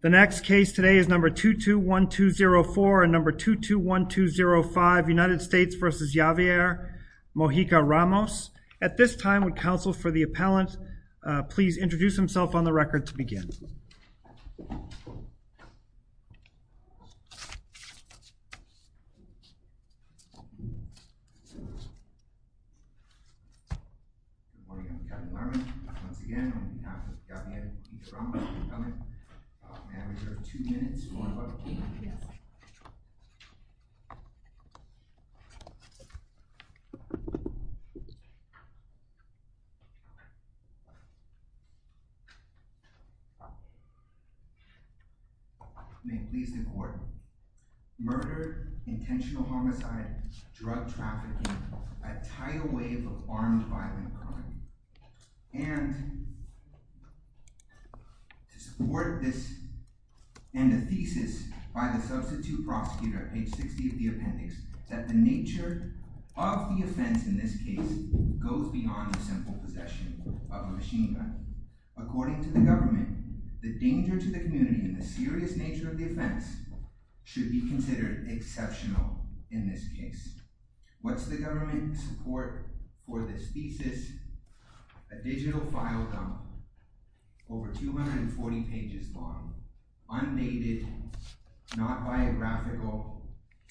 The next case today is number 221204 and number 221205 United States v. Javier Mojica-Ramos. At this time, would counsel for the appellant please introduce himself on the record to begin. Good morning, I'm Captain Harmon. Once again, I'm here with Javier Mojica-Ramos. We have two minutes. May it please the court. Murder, intentional homicide, drug trafficking, a tidal wave of armed violent crime. And to support this and the thesis by the substitute prosecutor at page 60 of the appendix that the nature of the offense in this case goes beyond the simple possession of a machine gun. According to the government, the danger to the community and the serious nature of the offense should be considered exceptional in this case. What's the government support for this thesis? A digital file dump, over 240 pages long, unnated, not biographical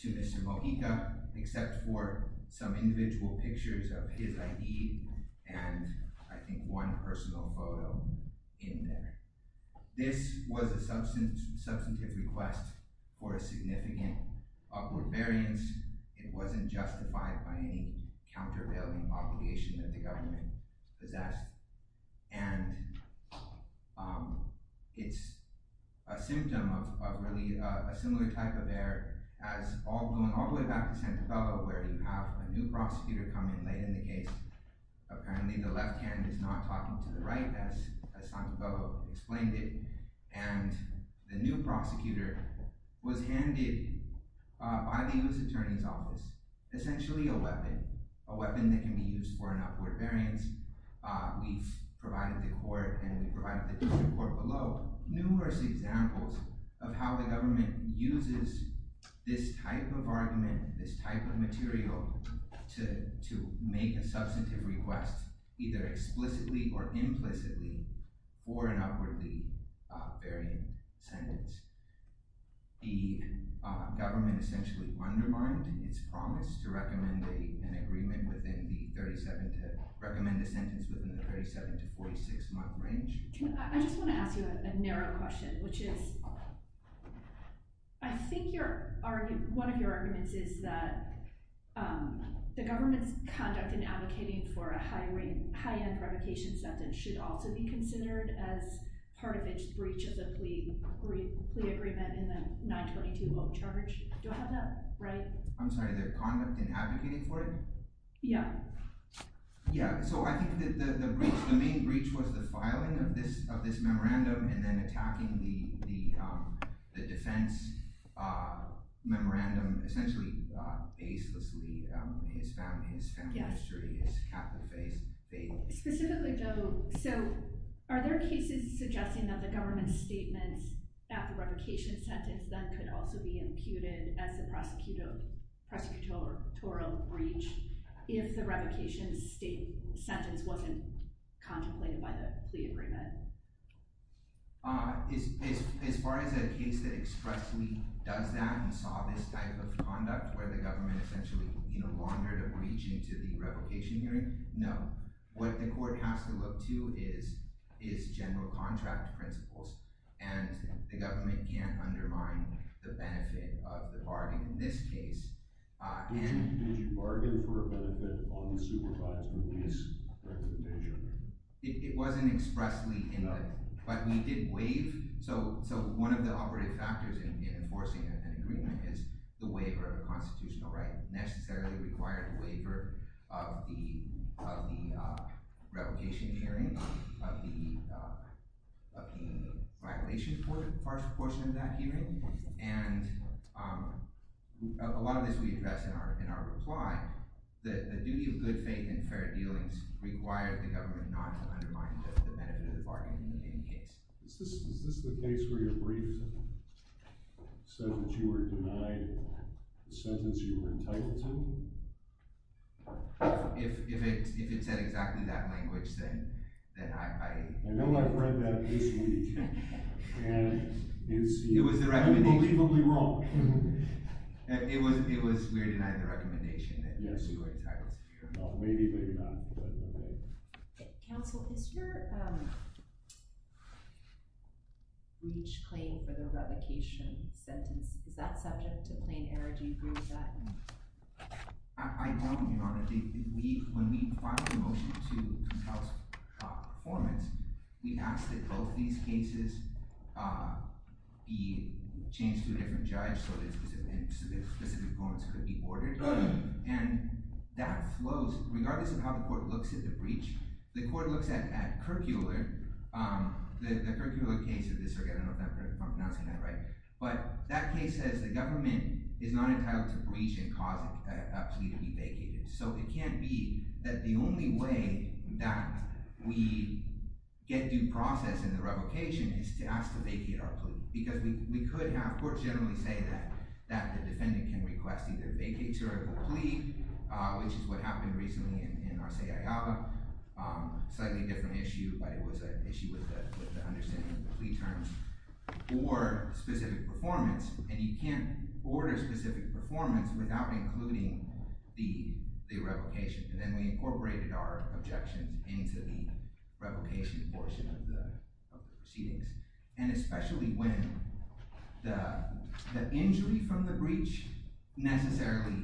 to Mr. Mojica except for some individual pictures of his ID and I think one personal photo in there. This was a substantive request for a significant upward variance. It wasn't justified by any countervailing obligation that the government possessed. And it's a symptom of really a similar type of error as going all the way back to Santabello where you have a new prosecutor come in late in the case. Apparently the left hand is not talking to the right as Santabello explained it. And the new prosecutor was handed by the U.S. Attorney's Office essentially a weapon. A weapon that can be used for an upward variance. We've provided the court and we provided the court below numerous examples of how the government uses this type of argument, this type of material to make a substantive request either explicitly or implicitly for an upwardly varying sentence. The government essentially undermined its promise to recommend an agreement within the 37 to recommend a sentence within the 37 to 46 month range. I just want to ask you a narrow question which is I think one of your arguments is that the government's conduct in advocating for a high-end revocation sentence should also be considered as part of its breach of the plea agreement in the 922-0 charge. Do I have that right? I'm sorry, their conduct in advocating for it? Yeah. Yeah, so I think the main breach was the filing of this memorandum and then attacking the defense memorandum essentially facelessly. His family history, his Catholic faith. Specifically though, so are there cases suggesting that the government's statements at the revocation sentence then could also be imputed as a prosecutorial breach if the revocation sentence wasn't contemplated by the plea agreement? As far as a case that expressly does that and saw this type of conduct where the government essentially no longer had a breach into the revocation hearing, no. What the court has to look to is general contract principles and the government can't undermine the benefit of the bargain in this case. Did you bargain for a benefit on the supervisory lease? It wasn't expressly in the… No. But we did waive, so one of the operative factors in enforcing an agreement is the waiver of a constitutional right. It necessarily required the waiver of the revocation hearing, of the violation portion of that hearing, and a lot of this we address in our reply. The duty of good faith and fair dealings required the government not to undermine the benefit of the bargain in any case. Is this the case where your brief says that you were denied the sentence you were entitled to? If it said exactly that language, then I… I know I've read that this week, and it's unbelievably wrong. It was we're denying the recommendation that you were entitled to your… Well, maybe, maybe not. Counsel, is your breach claim for the revocation sentence, is that subject to plain error? Do you agree with that? I don't, Your Honor. When we file a motion to compel performance, we ask that both these cases be changed to a different judge so that specific performance could be ordered. And that flows, regardless of how the court looks at the breach, the court looks at Kirkuler, the Kirkuler case, I'm not pronouncing that right, but that case says the government is not entitled to breach and cause a plea to be vacated. So it can't be that the only way that we get due process in the revocation is to ask to vacate our plea, because we could have courts generally say that the defendant can request either a vacature of the plea, which is what happened recently in Arceaga, slightly different issue, but it was an issue with the understanding of the plea terms, or specific performance. And you can't order specific performance without including the revocation. And then we incorporated our objections into the revocation portion of the proceedings. And especially when the injury from the breach necessarily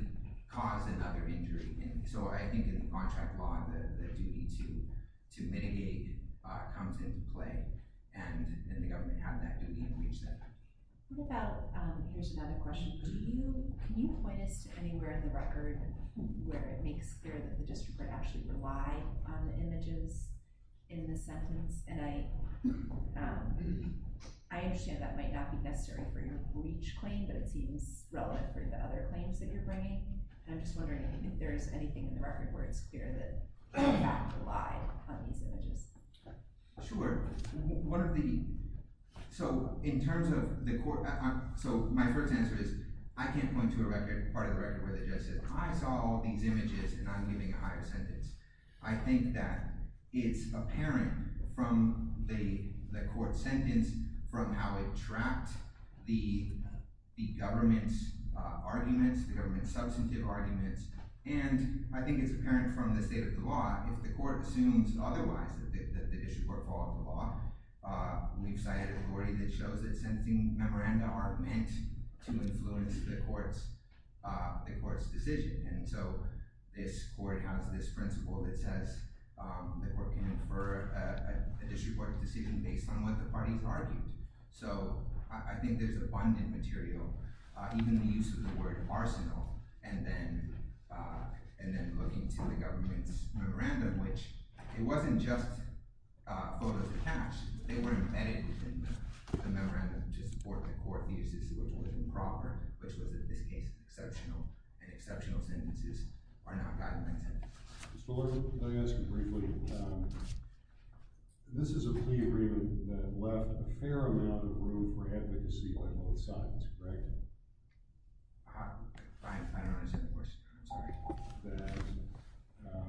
caused another injury. So I think in contract law, the duty to mitigate comes into play. And the government had that duty and breached that. What about, here's another question, can you point us to anywhere in the record where it makes clear that the district would actually rely on the images in the sentence? And I understand that might not be necessary for your breach claim, but it seems relevant for the other claims that you're bringing. And I'm just wondering if there's anything in the record where it's clear that you have to rely on these images. Sure. One of the, so in terms of the court, so my first answer is, I can't point to a record, part of the record where the judge says, I saw all these images and I'm giving a higher sentence. I think that it's apparent from the court sentence, from how it trapped the government's arguments, the government's substantive arguments, and I think it's apparent from the state of the law, if the court assumes otherwise, that the issues were called into law, we've cited a story that shows that sentencing memoranda are meant to influence the court's decision. And so this court has this principle that says the court can infer a disreported decision based on what the parties argued. So I think there's abundant material, even the use of the word arsenal, and then looking to the government's memoranda, which it wasn't just photos of cash, they were embedded within the memoranda, which is what the court uses, which was improper, which was in this case exceptional, and exceptional sentences are not documented. Mr. Fullerton, let me ask you briefly, this is a plea agreement that left a fair amount of room for advocacy by both sides, correct? I don't understand the question, I'm sorry. That,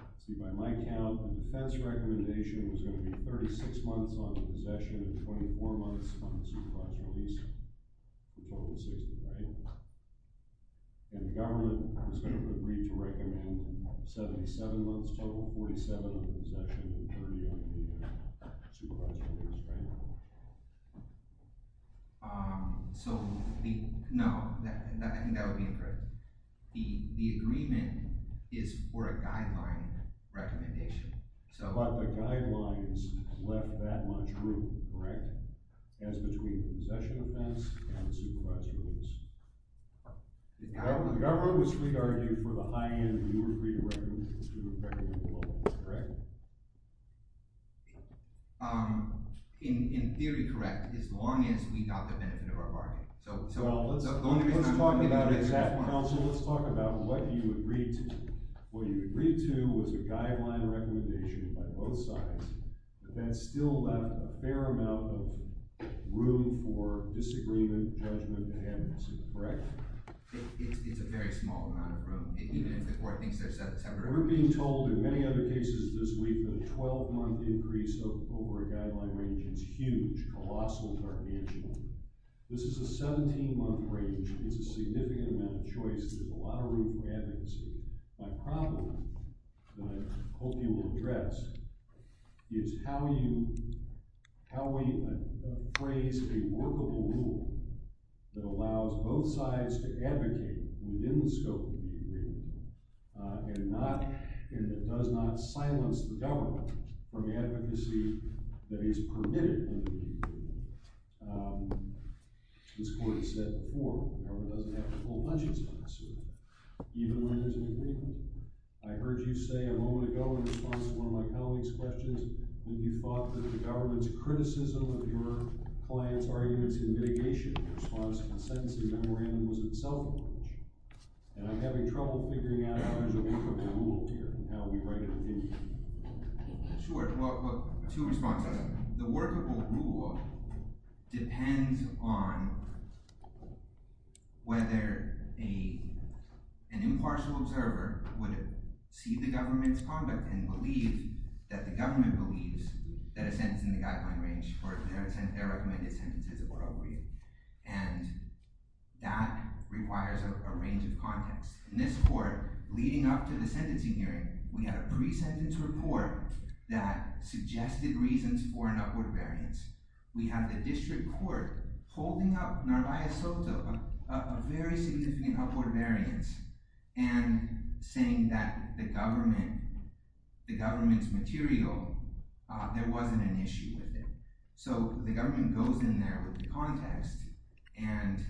let's see, by my count, the defense recommendation was going to be 36 months on possession and 24 months on the supervised release, which totaled 60, right? And the government was going to agree to recommend 77 months total, 47 on possession and 30 on the supervised release, right? So, no, I think that would be incorrect. The agreement is for a guideline recommendation. But the guidelines left that much room, correct, as between the possession offense and the supervised release. The government was free to argue for the high end you agreed to recommend, correct? In theory, correct, as long as we got the benefit of our bargain. So let's talk about what you agreed to. What you agreed to was a guideline recommendation by both sides, but that still left a fair amount of room for disagreement, judgment, and advocacy, correct? It's a very small amount of room, even if the court thinks there's a separate... We're being told in many other cases this week that a 12-month increase over a guideline range is huge, colossal targantia. This is a 17-month range, it's a significant amount of choice, there's a lot of room for advocacy. My problem, and I hope you will address, is how we appraise a workable rule that allows both sides to advocate within the scope of the agreement and that does not silence the government from advocacy that is permitted within the agreement. This court has said before, the government doesn't have a full budget sponsor even when there's an agreement. I heard you say a moment ago in response to one of my colleagues' questions that you thought that the government's criticism of your client's arguments in mitigation in response to the sentencing memorandum was in itself a bunch. And I'm having trouble figuring out how to work a rule here and how we write an opinion. Sure, well, two responses. The workable rule depends on whether an impartial observer would see the government's conduct and believe that the government believes that a sentence in the guideline range or their recommended sentence is appropriate. And that requires a range of context. In this court, leading up to the sentencing hearing, we had a pre-sentence report that suggested reasons for an upward variance. We had the district court holding up Narvaez Soto a very significant upward variance and saying that the government's material, there wasn't an issue with it. So the government goes in there with the context and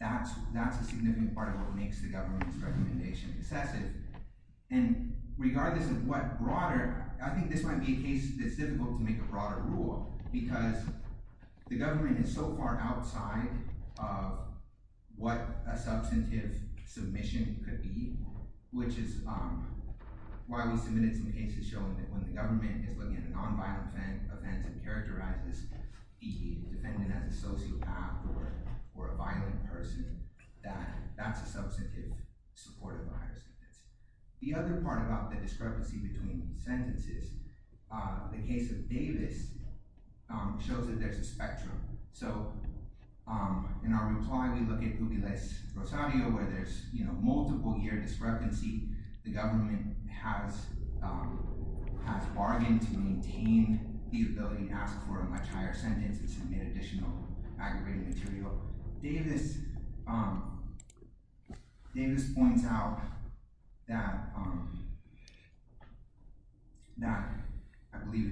that's a significant part of what makes the government's recommendation concessive. And regardless of what broader, I think this might be a case that's difficult to make a broader rule because the government is so far outside of what a substantive submission could be, which is why we submitted some cases showing that when the government is looking at a nonviolent offense and characterizes the defendant as a sociopath or a violent person, that that's a substantive support of a higher sentence. The other part about the discrepancy between sentences, the case of Davis shows that there's a spectrum. So in our reply, we look at Ubiles Rosario where there's multiple year discrepancy. The government has bargained to maintain the ability to ask for a much higher sentence and submit additional aggravated material. So Davis points out that—I believe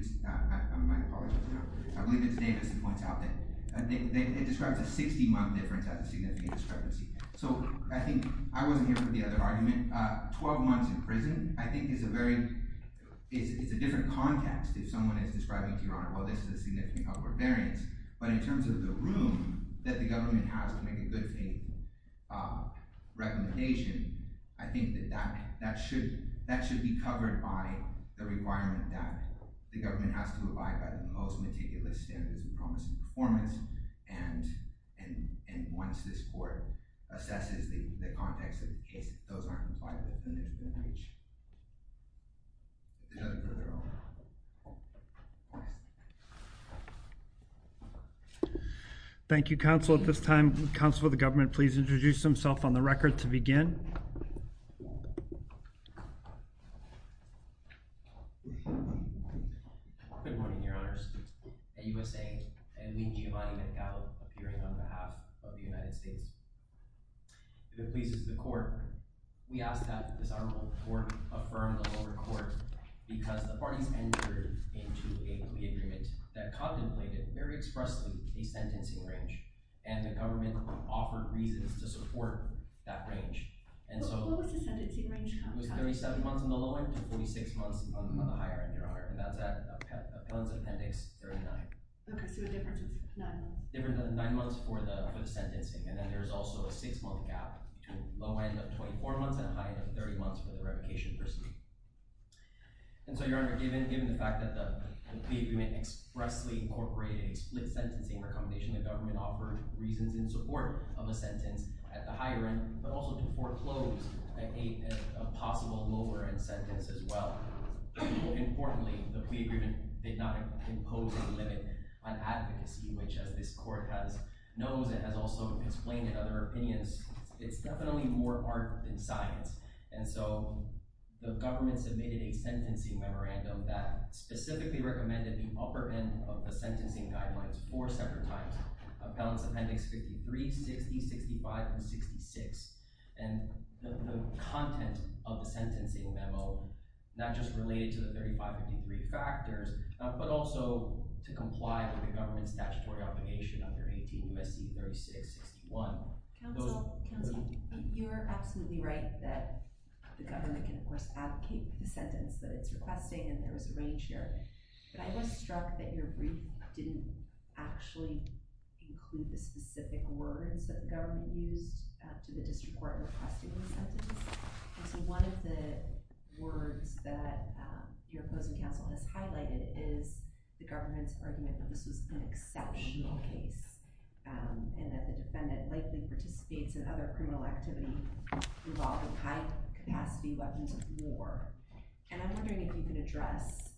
it's Davis who points out that it describes a 60-month difference as a significant discrepancy. So I think—I wasn't here for the other argument. Twelve months in prison I think is a very—it's a different context if someone is describing to your honor, well, this is a significant upward variance. But in terms of the room that the government has to make a good faith recommendation, I think that that should be covered by the requirement that the government has to abide by the most meticulous standards of promise and performance. And once this court assesses the context of the case, if those aren't complied with, then there's been breach. Thank you, counsel. At this time, the counsel of the government, please introduce himself on the record to begin. Good morning, your honors. At USAID, I am Lee Giovanni McGow appearing on behalf of the United States. If it pleases the court, we ask that this honorable court affirm the lower court because the parties entered into an agreement that contemplated very expressly a sentencing range and the government offered reasons to support that range. And so— What was the sentencing range, counsel? It was 37 months on the lower to 46 months on the higher end, your honor, and that's at Appellant's Appendix 39. Okay, so a difference of nine months. A difference of nine months for the sentencing, and then there's also a six-month gap to a low end of 24 months and a high end of 30 months for the revocation proceeding. And so, your honor, given the fact that the plea agreement expressly incorporated a split sentencing recommendation, the government offered reasons in support of a sentence at the higher end, but also to foreclose a possible lower-end sentence as well. Importantly, the plea agreement did not impose a limit on advocacy, which as this court knows and has also explained in other opinions, it's definitely more art than science. And so the government submitted a sentencing memorandum that specifically recommended the upper end of the sentencing guidelines four separate times, Appellant's Appendix 53, 60, 65, and 66, and the content of the sentencing memo not just related to the 3553 factors, but also to comply with the government's statutory obligation under 18 U.S.C. 3661. Counsel, you're absolutely right that the government can, of course, advocate for the sentence that it's requesting, and there was a range here, but I was struck that your words that the government used to the district court requesting the sentence. And so one of the words that your opposing counsel has highlighted is the government's argument that this was an exceptional case, and that the defendant likely participates in other criminal activity involving high-capacity weapons of war. And I'm wondering if you can address,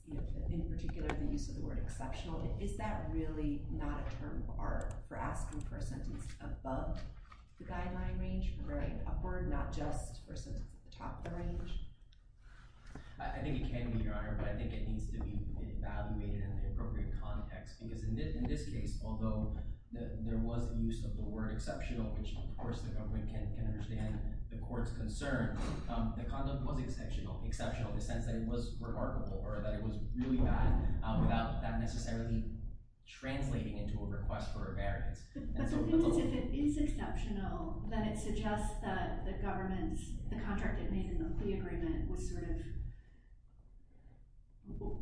in particular, the use of the word exceptional. Is that really not a term for asking for a sentence above the guideline range or upward, not just for a sentence at the top of the range? I think it can be, Your Honor, but I think it needs to be evaluated in the appropriate context, because in this case, although there was the use of the word exceptional, which of course the government can understand the court's concern, the conduct was exceptional in the sense that it was remarkable, or that it was really bad, without that necessarily translating into a request for a variance. But the thing is, if it is exceptional, then it suggests that the government's, the contract it made in the plea agreement was sort of,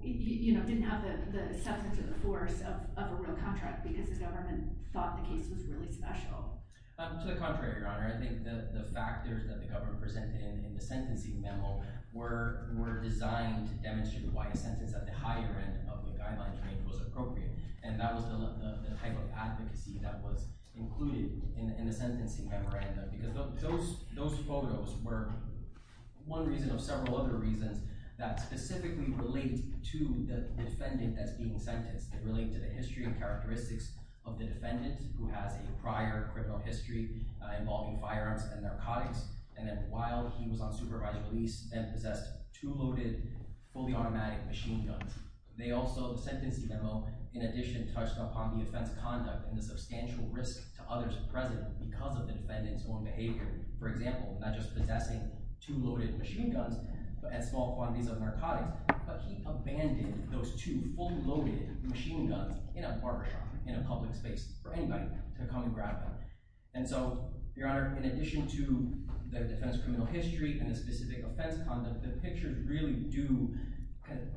you know, didn't have the substance or the force of a real contract, because the government thought the case was really special. To the contrary, Your Honor. I think the factors that the government presented in the sentencing memo were designed to demonstrate why a sentence at the higher end of the guideline range was appropriate, and that was the type of advocacy that was included in the sentencing memorandum. Because those photos were one reason of several other reasons that specifically relate to the defendant that's being sentenced. They relate to the history and characteristics of the defendant, who has a prior criminal history involving firearms and narcotics, and that while he was on supervisory release and possessed two loaded fully automatic machine guns, they also, the sentencing memo, in addition touched upon the offense conduct and the substantial risk to others present because of the defendant's own behavior. For example, not just possessing two loaded machine guns and small quantities of narcotics, but he abandoned those two fully loaded machine guns in a barber shop, in a public space, for anybody to come and grab them. And so, Your Honor, in addition to the defendant's criminal history and the specific offense conduct, the pictures really do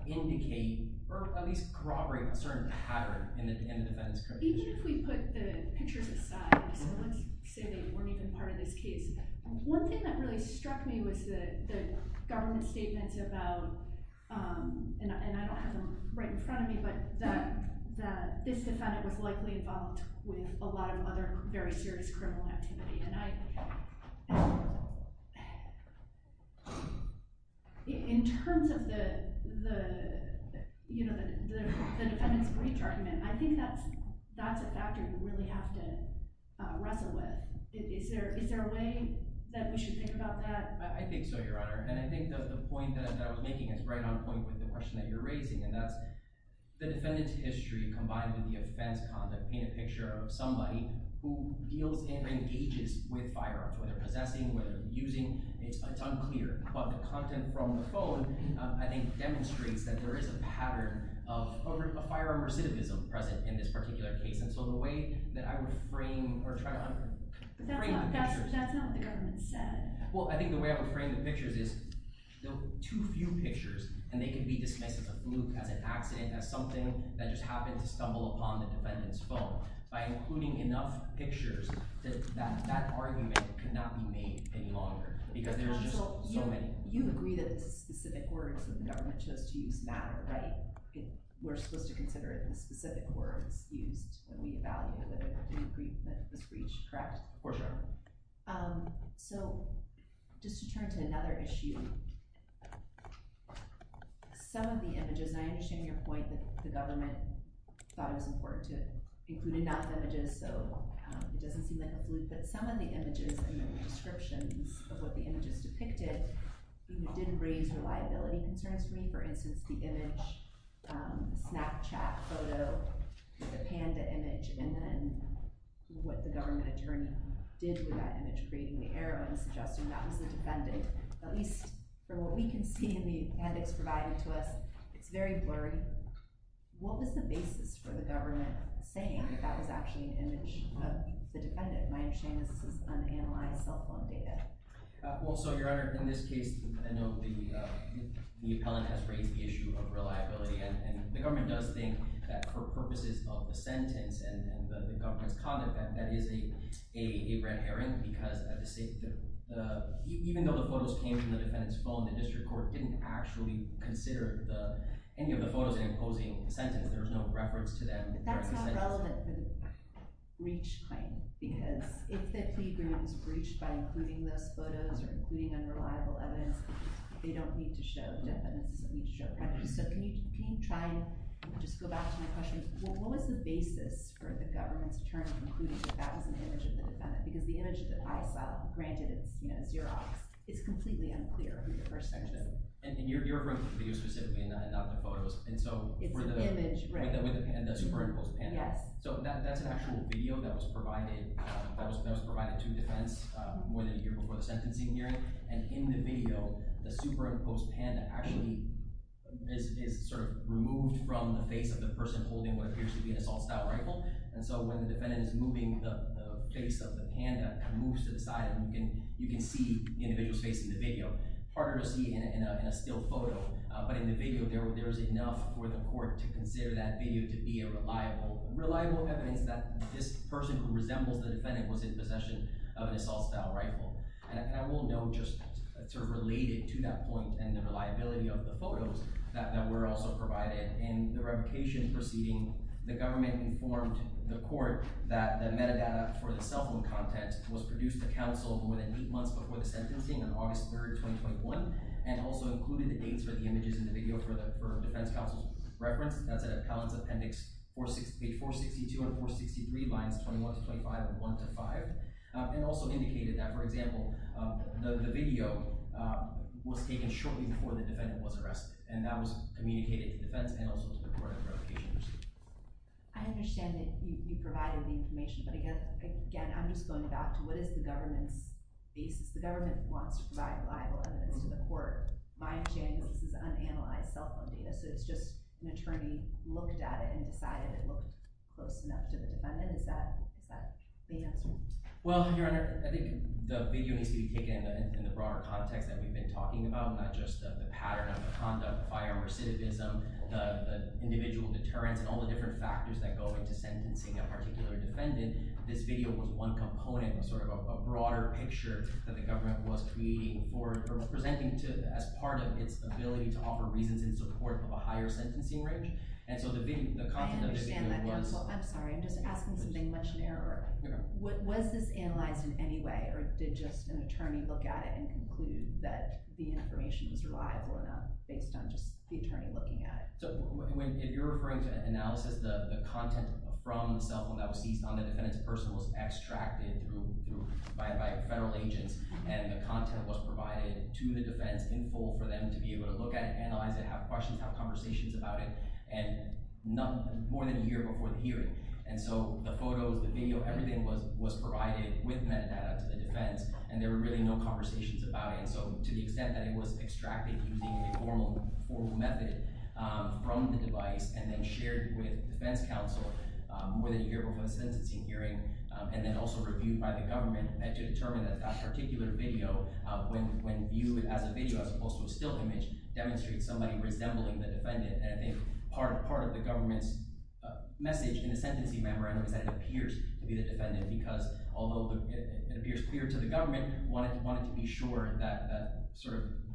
indicate, or at least corroborate, a certain pattern in the defendant's criminal history. Even if we put the pictures aside, so let's say they weren't even part of this case, one thing that really struck me was the government statements about, and I don't have them right in front of me, but that this defendant was likely involved with a lot of other very serious criminal activity. And I, in terms of the defendant's breach argument, I think that's a factor you really have to wrestle with. Is there a way that we should think about that? I think so, Your Honor. And I think the point that I was making is right on point with the question that you're asking. The defendant's history, combined with the offense conduct, paint a picture of somebody who deals and engages with firearms, whether possessing, whether using, it's unclear. But the content from the phone, I think, demonstrates that there is a pattern of firearm recidivism present in this particular case. And so the way that I would frame, or try to frame the pictures… That's not what the government said. Well, I think the way I would frame the pictures is, there are too few pictures, and they can be dismissed as a fluke, as an accident, as something that just happened to stumble upon the defendant's phone. By including enough pictures, that argument cannot be made any longer. Because there's just so many. You agree that the specific words that the government chose to use matter, right? We're supposed to consider it in the specific words used, and we evaluate whether we agree that it was breached, correct? For sure. So, just to turn to another issue, some of the images… And I understand your point that the government thought it was important to include enough images, so it doesn't seem like a fluke. But some of the images and the descriptions of what the images depicted did raise reliability concerns for me. For instance, the image, Snapchat photo, the panda image, and then what the government attorney did with that image, creating the arrow and suggesting that was the defendant. At least, from what we can see in the appendix provided to us, it's very blurry. What was the basis for the government saying that that was actually an image of the defendant? My understanding is that this is unanalyzed cell phone data. Well, so, Your Honor, in this case, I know the appellant has raised the issue of reliability. And the government does think that for purposes of the sentence and the government's conduct, that is a red herring. Because even though the photos came from the defendant's phone, the district court didn't actually consider any of the photos in the opposing sentence. There was no reference to them. That's not relevant to the breach claim. Because if the plea agreement was breached by including those photos or including unreliable evidence, they don't need to show the defendant's… So, can you try and just go back to the question, what was the basis for the government's conclusion that that was an image of the defendant? Because the image that I saw, granted it's Xerox, it's completely unclear who the person is. And you're referring to the video specifically, not the photos. It's an image, right. With the superimposed panda. Yes. So, that's an actual video that was provided to defense more than a year before the sentencing hearing. And in the video, the superimposed panda actually is sort of removed from the face of the person holding what appears to be an assault-style rifle. And so, when the defendant is moving the face of the panda, it moves to the side, and you can see the individual's face in the video. Harder to see in a still photo. But in the video, there was enough for the court to consider that video to be a reliable evidence that this person who resembles the defendant was in possession of an assault-style rifle. And I will note, just sort of related to that point and the reliability of the photos that were also provided, in the revocation proceeding, the government informed the court that the metadata for the cell phone content was produced to counsel more than eight months before the sentencing on August 3rd, 2021, and also included the dates for the images in the video for the defense counsel's reference. That's at Appellant's Appendix 462 and 463 lines 21 to 25 and 1 to 5. And also indicated that, for example, the video was taken shortly before the defendant was arrested. And that was communicated to defense and also to the court in the revocation proceeding. I understand that you provided the information, but again, I'm just going back to what is the government's basis. The government wants to provide reliable evidence to the court. My understanding is this is unanalyzed cell phone data, so it's just an attorney looked at it and decided it looked close enough to the defendant. Is that the answer? Well, Your Honor, I think the video needs to be taken in the broader context that we've been talking about, not just the pattern of the conduct, firearm recidivism, the individual deterrence, and all the different factors that go into sentencing a particular defendant. This video was one component, sort of a broader picture that the government was presenting as part of its ability to offer reasons in support of a higher sentencing range. And so the content of the video was— I understand that, counsel. I'm sorry. I'm just asking something much narrower. Was this analyzed in any way, or did just an attorney look at it and conclude that the information was reliable enough based on just the attorney looking at it? If you're referring to analysis, the content from the cell phone that was seized on the defendant's person was extracted by federal agents, and the content was provided to the defense in full for them to be able to look at it, analyze it, have questions, have conversations about it, more than a year before the hearing. And so the photos, the video, everything was provided with metadata to the defense, and there were really no conversations about it. So to the extent that it was extracted using a formal method from the device and then shared with defense counsel more than a year before the sentencing hearing, and then also reviewed by the government to determine that that particular video, when viewed as a video as opposed to a still image, demonstrates somebody resembling the defendant. And I think part of the government's message in the sentencing memorandum is that it appears to be the defendant, because although it appears clear to the government, wanted to be sure that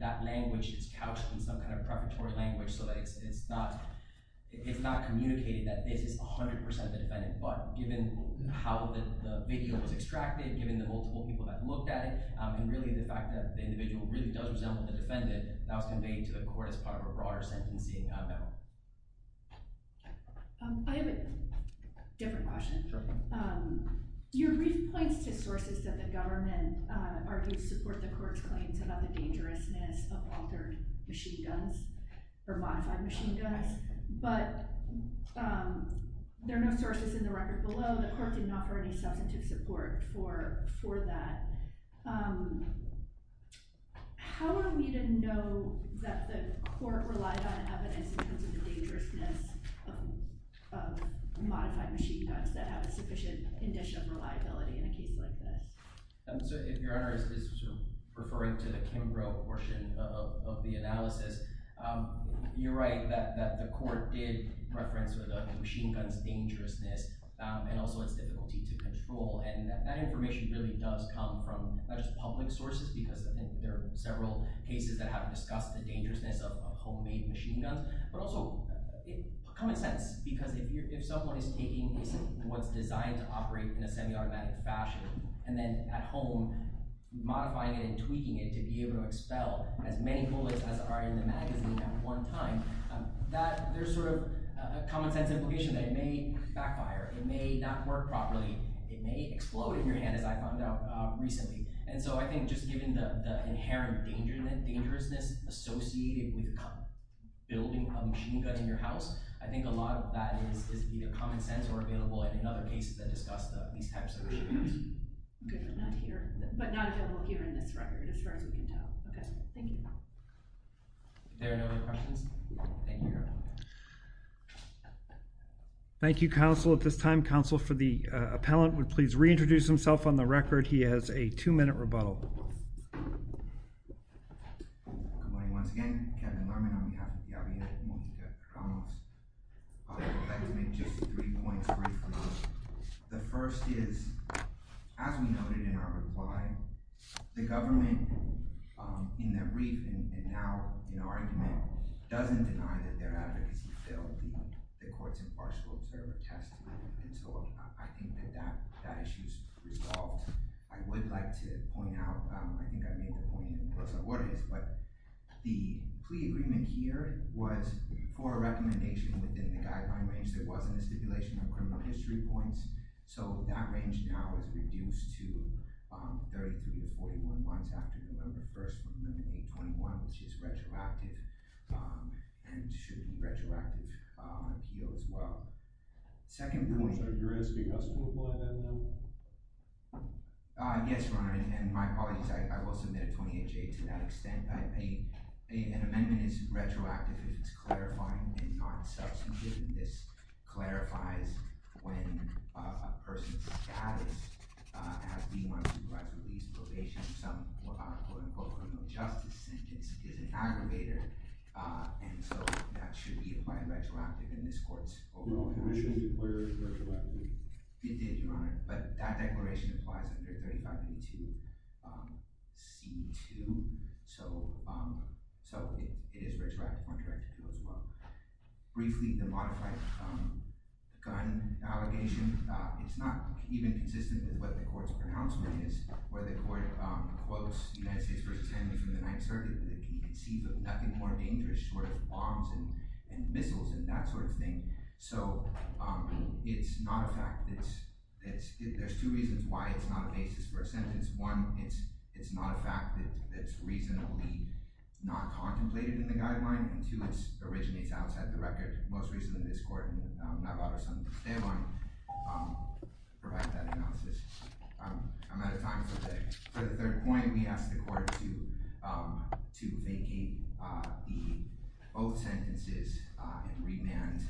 that language is couched in some kind of preparatory language so that it's not communicated that this is 100% the defendant. But given how the video was extracted, given the multiple people that looked at it, and really the fact that the individual really does resemble the defendant, that was conveyed to the court as part of a broader sentencing memo. I have a different question. Your brief points to sources that the government argues support the court's claims about the dangerousness of altered machine guns, or modified machine guns, but there are no sources in the record below. The court did not offer any substantive support for that. How are we to know that the court relied on evidence in terms of the dangerousness of modified machine guns that have a sufficient condition of reliability in a case like this? So if Your Honor is referring to the Kimbrough portion of the analysis, you're right that the court did reference the machine gun's dangerousness and also its difficulty to control. And that information really does come from not just public sources, because there are several cases that have discussed the dangerousness of homemade machine guns, but also common sense, because if someone is taking what's designed to operate in a semi-automatic fashion and then at home modifying it and tweaking it to be able to expel as many bullets as are in the magazine at one time, there's sort of a common sense implication that it may explode in your hand, as I found out recently. And so I think just given the inherent dangerousness associated with building a machine gun in your house, I think a lot of that is either common sense or available in other cases that discuss these types of machines. Okay, not here, but not available here in this record, as far as we can tell. Okay, thank you. If there are no other questions, thank you, Your Honor. Thank you, counsel. At this time, counsel for the appellant would please reintroduce himself on the record. He has a two-minute rebuttal. Good morning, once again. Kevin Lerman on behalf of the RBI, and I'm moving to comments. I would like to make just three points briefly. The first is, as we noted in our reply, the government, in their brief and now in argument, doesn't deny that their advocacy failed the court's impartial observer test. And so I think that that issue is resolved. I would like to point out, I think I made the point in Rosa Juarez, but the plea agreement here was for a recommendation within the guideline range. There wasn't a stipulation on criminal history points, so that range now is reduced to 33 to 41 months after November 1st, which is retroactive and should be retroactive appeal as well. Second point— Your Honor, so you're asking us to apply that now? Yes, Your Honor, and my apologies. I will submit a 28-J to that extent. An amendment is retroactive if it's clarifying and not substantive, and this clarifies when a person's status as being one who provides release, probation, or some quote-unquote criminal justice sentence is an aggravator, and so that should be applied retroactively in this court's overall hearing. The commission declared retroactively. It did, Your Honor, but that declaration applies under 35A2C2, so it is retroactive on Directive 2 as well. Briefly, the modified gun allegation—it's not even consistent with what the court's pronouncement is, where the court quotes United States v. Henry from the 9th Circuit, but it sees nothing more dangerous short of bombs and missiles and that sort of thing. So it's not a fact that—there's two reasons why it's not a basis for a sentence. One, it's not a fact that it's reasonably not contemplated in the guideline, and two, this originates outside the record. Most recently, this court and Navarro's son, Esteban, provided that analysis. I'm out of time for the third point. We ask the court to vacate both sentences and remand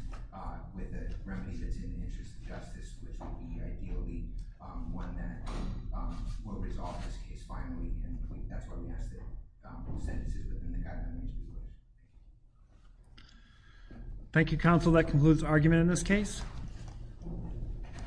with a remedy that's in the interest of justice, which would be ideally one that will resolve this case finally, and that's what we ask the court to do. Thank you, counsel. That concludes the argument in this case.